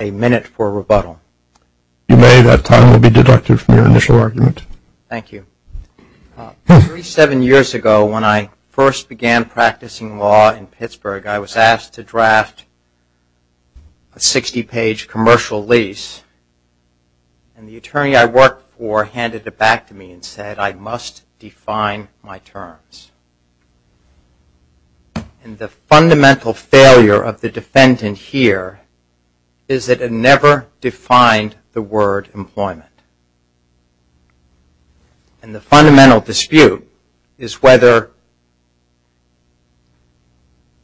A minute for rebuttal. If you may, that time will be deducted from your initial argument. Thank you. Three, seven years ago when I first began practicing law in Pittsburgh, I was asked to draft a 60-page commercial lease, and the attorney I worked for handed it back to me and said, I must define my terms. And the fundamental failure of the defendant here is that it never defined the word employment. And the fundamental dispute is whether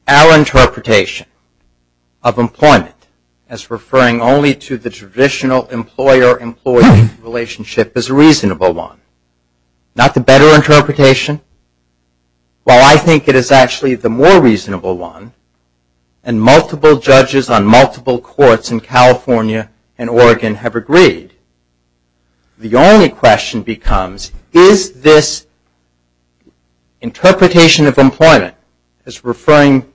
our interpretation of employment as referring only to the traditional employer-employee relationship is a reasonable one. Not the better interpretation? Well, I think it is actually the more reasonable one, and multiple judges on multiple courts in California and Oregon have agreed. The only question becomes, is this interpretation of employment as referring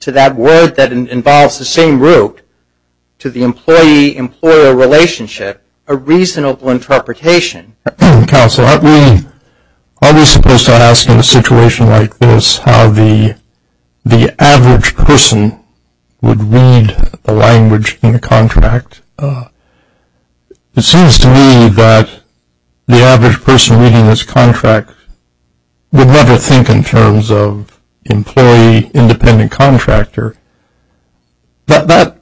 to that word that involves the same root to the employee-employer relationship a reasonable interpretation? Counsel, aren't we supposed to ask in a situation like this how the average person would read the language in the contract? It seems to me that the average person reading this contract would never think in terms of employee-independent contractor. That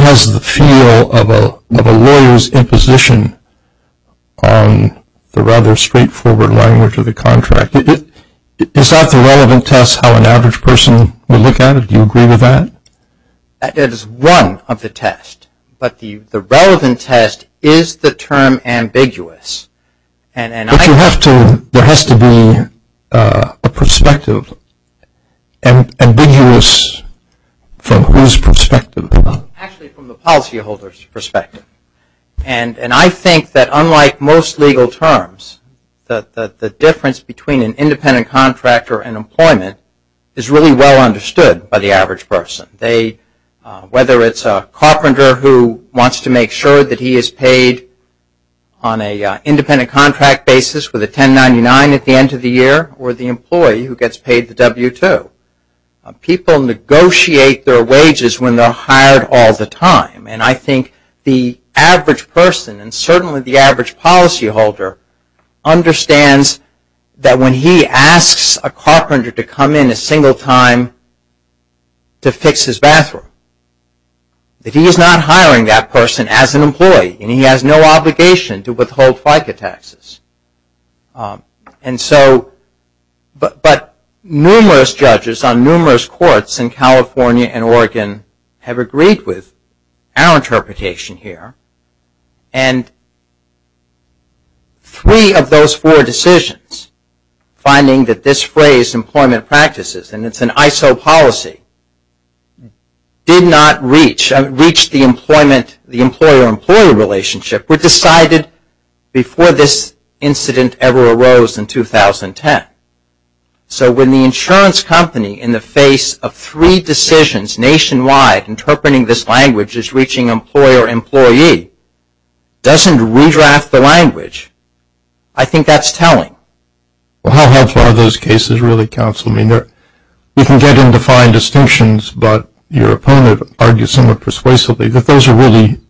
has the feel of a lawyer's imposition on the rather straightforward language of the contract. Is that the relevant test how an average person would look at it? Do you agree with that? It is one of the tests, but the relevant test is the term ambiguous. But there has to be a perspective, ambiguous from whose perspective? Actually, from the policyholder's perspective. And I think that unlike most legal terms, the difference between an independent contractor and employment is really well understood by the average person. Whether it's a carpenter who wants to make sure that he is paid on an independent contract basis with a 1099 at the end of the year, or the employee who gets paid the W-2. People negotiate their wages when they're hired all the time. And I think the average person, and certainly the average policyholder, understands that when he asks a carpenter to come in a single time to fix his bathroom, that he is not hiring that person as an employee, and he has no obligation to withhold FICA taxes. But numerous judges on numerous courts in California and Oregon have agreed with our interpretation here. And three of those four decisions, finding that this phrase employment practices, and it's an ISO policy, did not reach the employer-employee relationship, were decided before this incident ever arose in 2010. So when the insurance company, in the face of three decisions nationwide, interpreting this language as reaching employer-employee, doesn't redraft the language, I think that's telling. Well, how helpful are those cases really, counsel? I mean, we can get in defined distinctions, but your opponent argues somewhat persuasively that those are really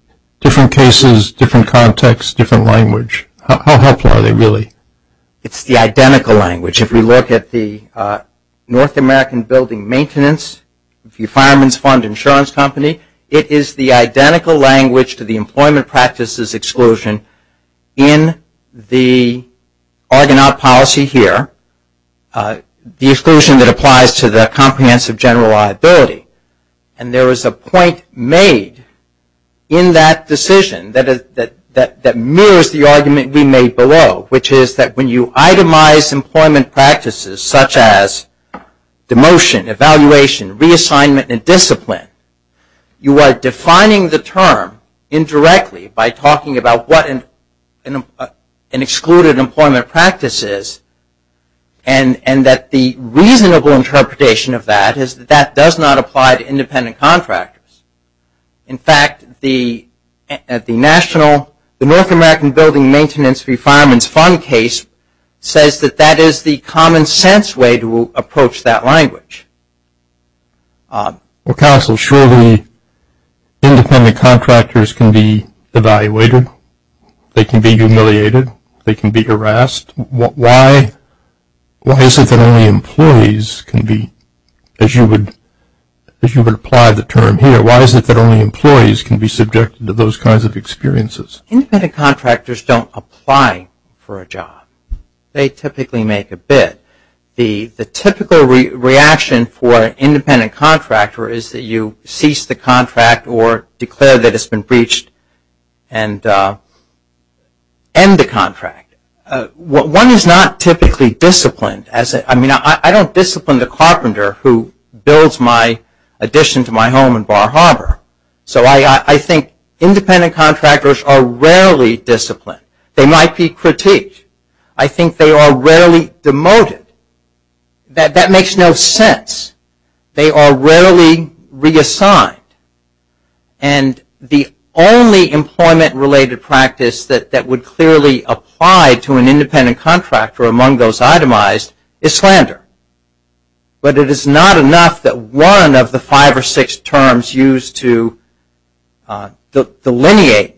different cases, different context, different language. How helpful are they really? It's the identical language. If we look at the North American Building Maintenance, the fireman's fund insurance company, it is the identical language to the employment practices exclusion in the Argonaut policy here. The exclusion that applies to the comprehensive general liability. And there is a point made in that decision that mirrors the argument we made below, which is that when you itemize employment practices such as demotion, evaluation, reassignment, and discipline, you are defining the term indirectly by talking about what an excluded employment practice is, and that the reasonable interpretation of that is that that does not apply to independent contractors. In fact, at the national, the North American Building Maintenance, the fireman's fund case, says that that is the common sense way to approach that language. Well, counsel, surely independent contractors can be evaluated. They can be humiliated. They can be harassed. Why is it that only employees can be, as you would apply the term here, why is it that only employees can be subjected to those kinds of experiences? Independent contractors don't apply for a job. They typically make a bid. The typical reaction for an independent contractor is that you cease the contract or declare that it's been breached and end the contract. One is not typically disciplined. I mean, I don't discipline the carpenter who builds my addition to my home in Bar Harbor. So I think independent contractors are rarely disciplined. They might be critiqued. I think they are rarely demoted. That makes no sense. They are rarely reassigned. And the only employment-related practice that would clearly apply to an independent contractor among those itemized is slander. But it is not enough that one of the five or six terms used to delineate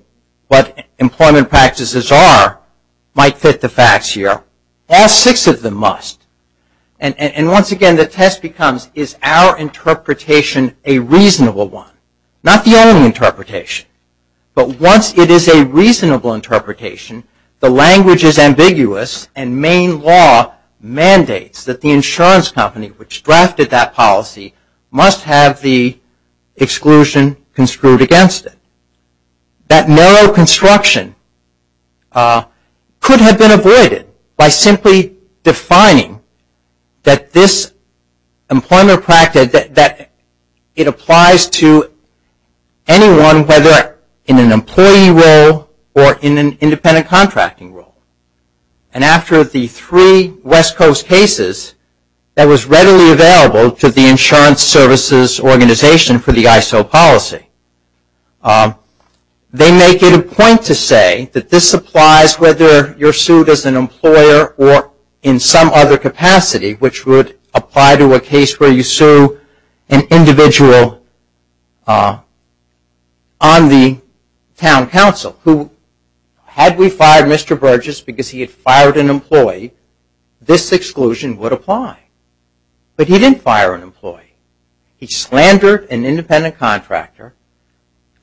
what employment practices are might fit the facts here. All six of them must. And once again, the test becomes, is our interpretation a reasonable one? Not the only interpretation. But once it is a reasonable interpretation, the language is ambiguous and main law mandates that the insurance company which drafted that policy must have the exclusion construed against it. That narrow construction could have been avoided by simply defining that this employment practice, that it applies to anyone whether in an employee role or in an independent contracting role. And after the three West Coast cases, that was readily available to the insurance services organization for the ISO policy. They make it a point to say that this applies whether you are sued as an employer or in some other capacity which would apply to a case where you sue an individual on the town council who had we fired Mr. Burgess because he had fired an employee, this exclusion would apply. But he didn't fire an employee. He slandered an independent contractor.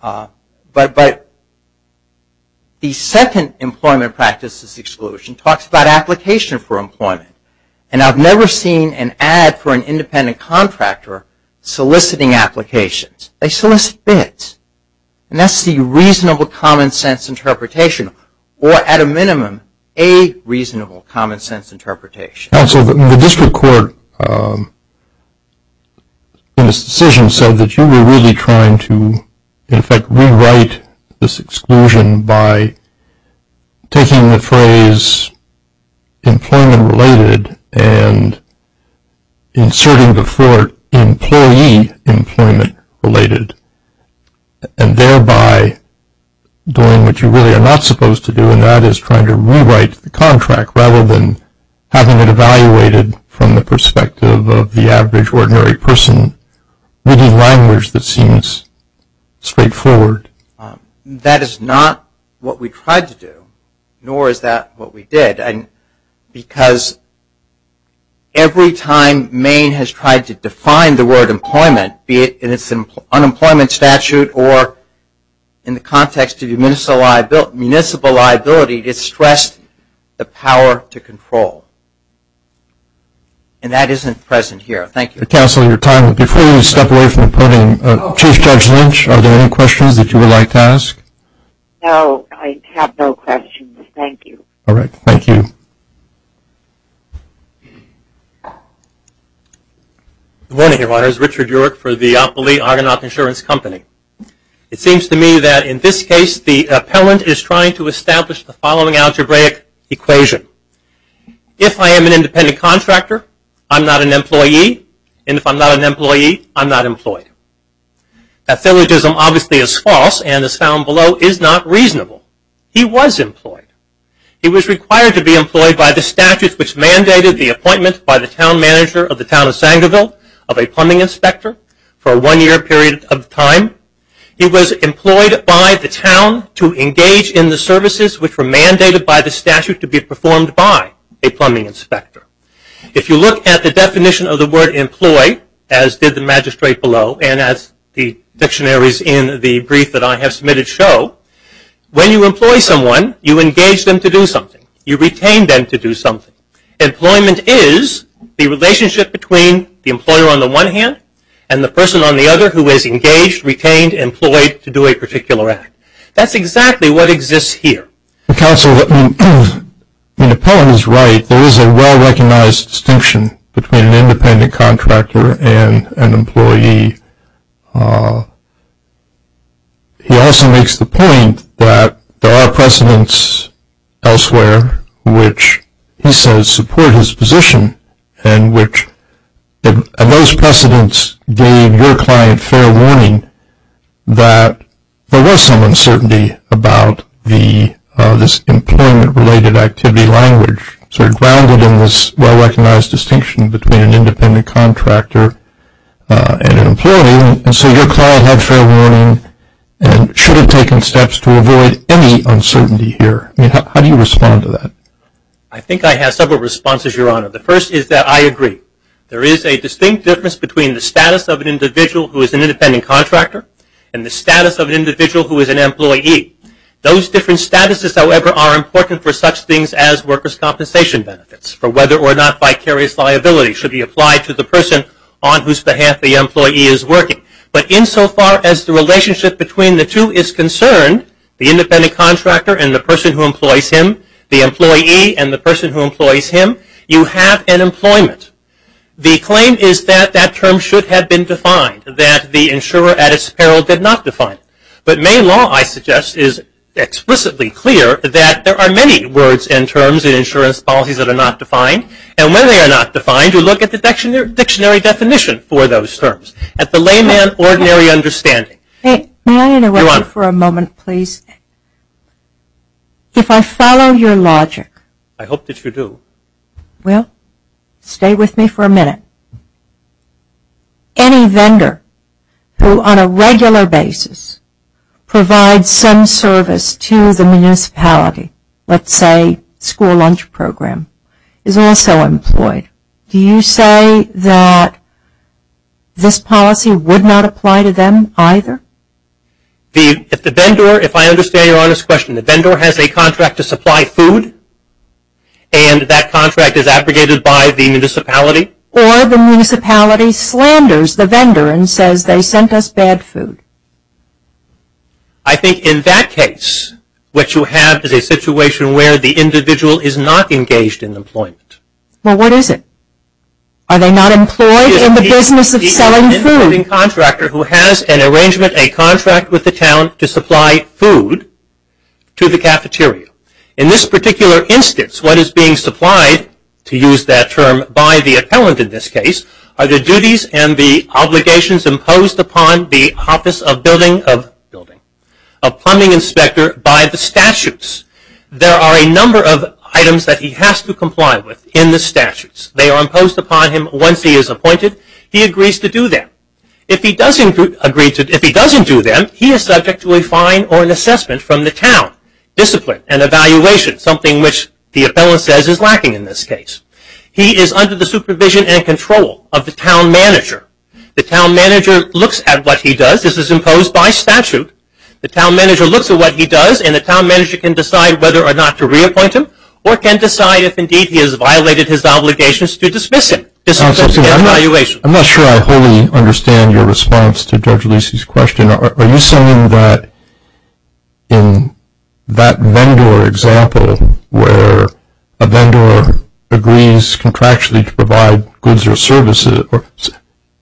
But the second employment practices exclusion talks about application for employment. And I've never seen an ad for an independent contractor soliciting applications. They solicit bids. And that's the reasonable common sense interpretation or at a minimum a reasonable common sense interpretation. Counsel, the district court in its decision said that you were really trying to, in effect, rewrite this exclusion by taking the phrase employment related and inserting before it employee employment related and thereby doing what you really are not supposed to do and that is trying to rewrite the contract rather than having it evaluated from the perspective of the average ordinary person reading language that seems straightforward. That is not what we tried to do nor is that what we did because every time Maine has tried to define the word employment, be it in its unemployment statute or in the context of municipal liability, it stressed the power to control. And that isn't present here. Thank you. Counsel, your time is up. Before you step away from the podium, Chief Judge Lynch, are there any questions that you would like to ask? No, I have no questions. Thank you. All right. Thank you. Good morning, Your Honors. Richard Yurick for the Oppoly Argonaut Insurance Company. It seems to me that in this case the appellant is trying to establish the following algebraic equation. If I am an independent contractor, I'm not an employee, and if I'm not an employee, I'm not employed. That syllogism obviously is false and is found below is not reasonable. He was employed. He was required to be employed by the statutes which mandated the appointment by the town manager of the town of Sangerville of a plumbing inspector for a one-year period of time. He was employed by the town to engage in the services which were mandated by the statute to be performed by a plumbing inspector. If you look at the definition of the word employ, as did the magistrate below and as the dictionaries in the brief that I have submitted show, when you employ someone, you engage them to do something. You retain them to do something. Employment is the relationship between the employer on the one hand and the person on the other who is engaged, retained, employed to do a particular act. That's exactly what exists here. Counsel, the appellant is right. There is a well-recognized distinction between an independent contractor and an employee. He also makes the point that there are precedents elsewhere which he says support his position and those precedents gave your client fair warning that there was some uncertainty about this employment-related activity language. Grounded in this well-recognized distinction between an independent contractor and an employee and so your client had fair warning and should have taken steps to avoid any uncertainty here. How do you respond to that? I think I have several responses, Your Honor. The first is that I agree. There is a distinct difference between the status of an individual who is an independent contractor and the status of an individual who is an employee. Those different statuses, however, are important for such things as workers' compensation benefits for whether or not vicarious liability should be applied to the person on whose behalf the employee is working. But insofar as the relationship between the two is concerned, the independent contractor and the person who employs him, the employee and the person who employs him, you have an employment. The claim is that that term should have been defined, that the insurer at its peril did not define it. But main law, I suggest, is explicitly clear that there are many words and terms in insurance policies that are not defined. And when they are not defined, you look at the dictionary definition for those terms, at the layman ordinary understanding. May I interrupt you for a moment, please? If I follow your logic. I hope that you do. Well, stay with me for a minute. Any vendor who on a regular basis provides some service to the municipality, let's say school lunch program, is also employed. Do you say that this policy would not apply to them either? If the vendor, if I understand your honest question, the vendor has a contract to supply food and that contract is abrogated by the municipality Or the municipality slanders the vendor and says they sent us bad food. I think in that case, what you have is a situation where the individual is not engaged in employment. Well, what is it? Are they not employed in the business of selling food? He is an employing contractor who has an arrangement, a contract with the town, to supply food to the cafeteria. In this particular instance, what is being supplied, to use that term, by the appellant in this case, are the duties and the obligations imposed upon the office of building, of building, of plumbing inspector by the statutes. There are a number of items that he has to comply with in the statutes. They are imposed upon him once he is appointed. He agrees to do them. If he doesn't do them, he is subject to a fine or an assessment from the town, discipline and evaluation, something which the appellant says is lacking in this case. He is under the supervision and control of the town manager. The town manager looks at what he does. This is imposed by statute. The town manager looks at what he does and the town manager can decide whether or not to reappoint him or can decide if indeed he has violated his obligations to dismiss him, discipline and evaluation. I'm not sure I wholly understand your response to Judge Lucey's question. Are you saying that in that vendor example where a vendor agrees contractually to provide goods or services,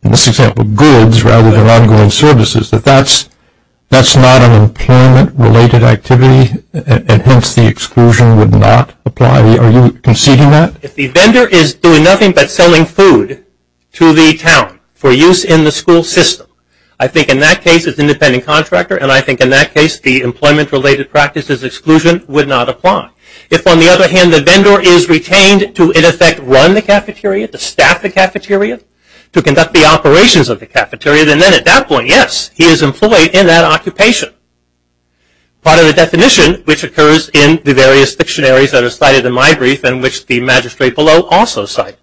in this example goods rather than ongoing services, that that's not an employment-related activity and hence the exclusion would not apply? Are you conceding that? If the vendor is doing nothing but selling food to the town for use in the school system, I think in that case it's an independent contractor and I think in that case the employment-related practice's exclusion would not apply. If, on the other hand, the vendor is retained to, in effect, run the cafeteria, to staff the cafeteria, to conduct the operations of the cafeteria, then at that point, yes, he is employed in that occupation. Part of the definition, which occurs in the various dictionaries that are cited in my brief and which the magistrate below also cite,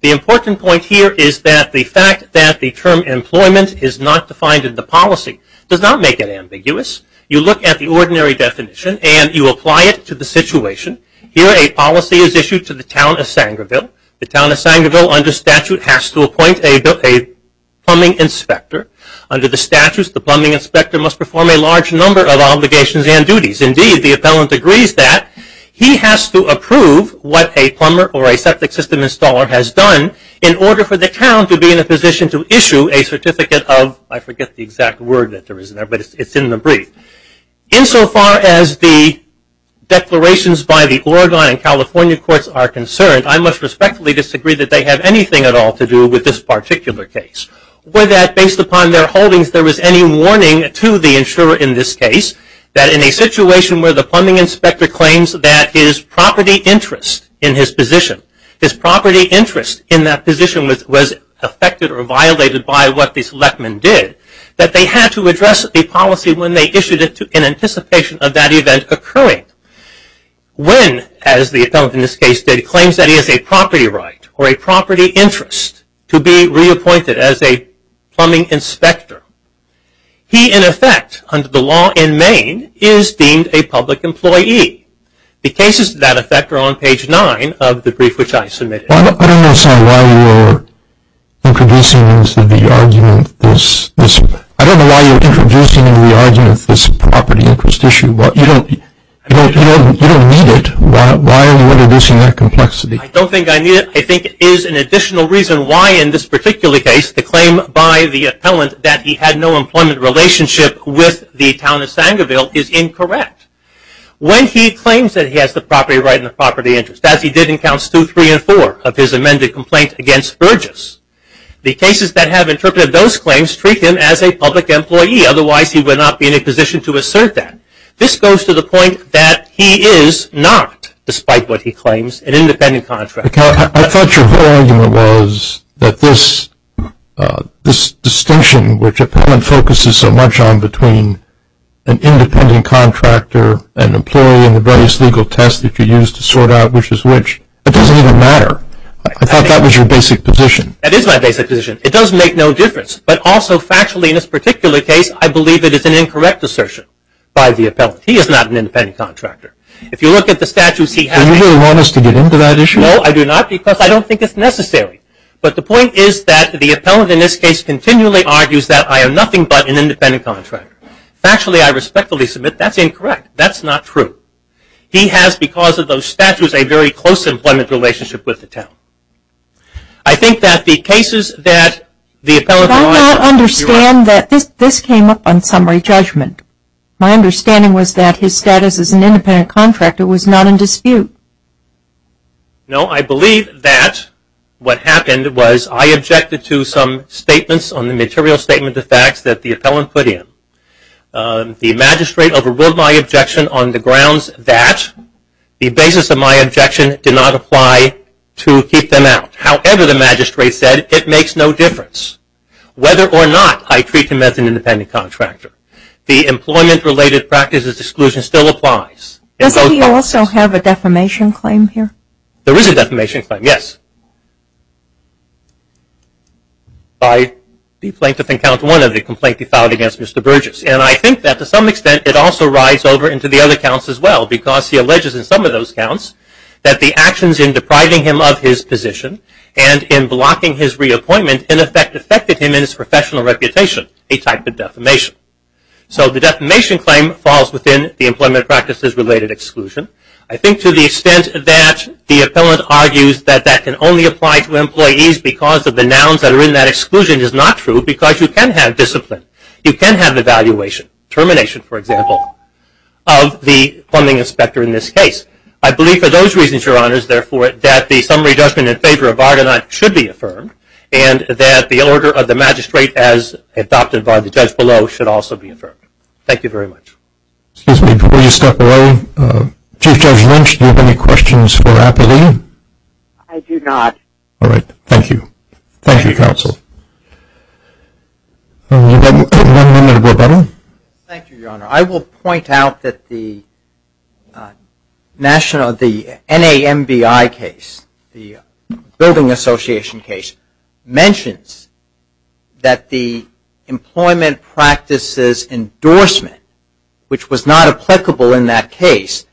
the important point here is that the fact that the term employment is not defined in the policy does not make it ambiguous. You look at the ordinary definition and you apply it to the situation. Here a policy is issued to the town of Sangreville. The town of Sangreville, under statute, has to appoint a plumbing inspector. Under the statutes, the plumbing inspector must perform a large number of obligations and duties. Indeed, the appellant agrees that he has to approve what a plumber or a septic system installer has done in order for the town to be in a position to issue a certificate of, I forget the exact word that there is there, but it's in the brief. Insofar as the declarations by the Oregon and California courts are concerned, I must respectfully disagree that they have anything at all to do with this particular case. Were that, based upon their holdings, there was any warning to the insurer in this case that in a situation where the plumbing inspector claims that his property interest in his position, his property interest in that position was affected or violated by what the selectmen did, that they had to address the policy when they issued it in anticipation of that event occurring. When, as the appellant in this case did, claims that he has a property right or a property interest to be reappointed as a plumbing inspector, he, in effect, under the law in Maine, is deemed a public employee. The cases to that effect are on page nine of the brief which I submitted. I don't know, Sam, why you're introducing into the argument this property interest issue, but you don't need it. Why are you introducing that complexity? I don't think I need it. I think it is an additional reason why, in this particular case, the claim by the appellant that he had no employment relationship with the town of Sangerville is incorrect. When he claims that he has the property right and the property interest, as he did in counts two, three, and four of his amended complaint against Burgess, the cases that have interpreted those claims treat him as a public employee. Otherwise, he would not be in a position to assert that. This goes to the point that he is not, despite what he claims, an independent contractor. I thought your whole argument was that this distinction, which appellant focuses so much on between an independent contractor, an employee, and the various legal tests that you use to sort out which is which, it doesn't even matter. I thought that was your basic position. That is my basic position. It does make no difference. But also, factually, in this particular case, I believe it is an incorrect assertion by the appellant. He is not an independent contractor. If you look at the statutes he has. Do you really want us to get into that issue? No, I do not, because I don't think it's necessary. But the point is that the appellant in this case continually argues that I am nothing but an independent contractor. Factually, I respectfully submit that's incorrect. That's not true. He has, because of those statutes, a very close employment relationship with the town. I think that the cases that the appellant. I do not understand that this came up on summary judgment. My understanding was that his status as an independent contractor was not in dispute. No, I believe that what happened was I objected to some statements on the material statement of facts that the appellant put in. The magistrate overruled my objection on the grounds that the basis of my objection did not apply to keep them out. However, the magistrate said it makes no difference whether or not I treat him as an independent contractor. The employment-related practices exclusion still applies. Does he also have a defamation claim here? There is a defamation claim, yes. By the plaintiff in count one of the complaint he filed against Mr. Burgess. And I think that to some extent it also rides over into the other counts as well, because he alleges in some of those counts that the actions in depriving him of his position and in blocking his reappointment in effect affected him in his professional reputation, a type of defamation. So the defamation claim falls within the employment practices-related exclusion. I think to the extent that the appellant argues that that can only apply to employees because of the nouns that are in that exclusion is not true, because you can have discipline. You can have evaluation, termination, for example, of the funding inspector in this case. I believe for those reasons, Your Honors, therefore, that the summary judgment in favor of Argonaut should be affirmed and that the order of the magistrate as adopted by the judge below should also be affirmed. Thank you very much. Excuse me. Before you step away, Chief Judge Lynch, do you have any questions for Appellee? I do not. All right. Thank you. Thank you, counsel. All right. You've got one minute, Appellee. Thank you, Your Honor. I will point out that the NAMBI case, the Building Association case, mentions that the employment practices endorsement, which was not applicable in that case,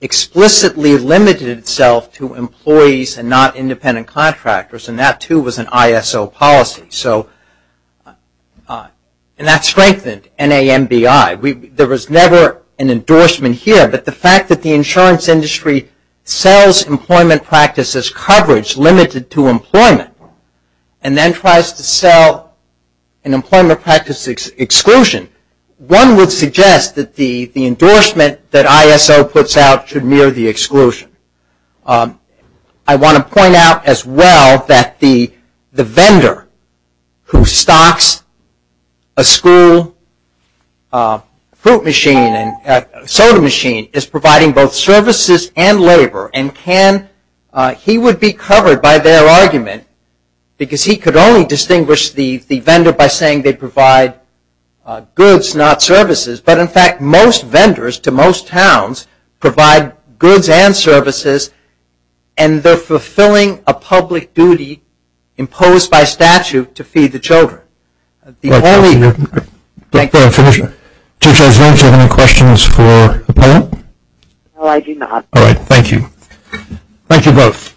explicitly limited itself to employees and not independent contractors, and that, too, was an ISO policy, and that strengthened NAMBI. There was never an endorsement here, but the fact that the insurance industry sells employment practices coverage limited to employment and then tries to sell an employment practice exclusion, one would suggest that the endorsement that ISO puts out should mirror the exclusion. I want to point out as well that the vendor who stocks a school fruit machine and soda machine is providing both services and labor, and he would be covered by their argument because he could only distinguish the vendor by saying they provide goods, not services, but, in fact, most vendors to most towns provide goods and services, and they're fulfilling a public duty imposed by statute to feed the children. The only... Go ahead and finish. Judge Oswin, do you have any questions for Appellee? No, I do not. All right. Thank you. Thank you both.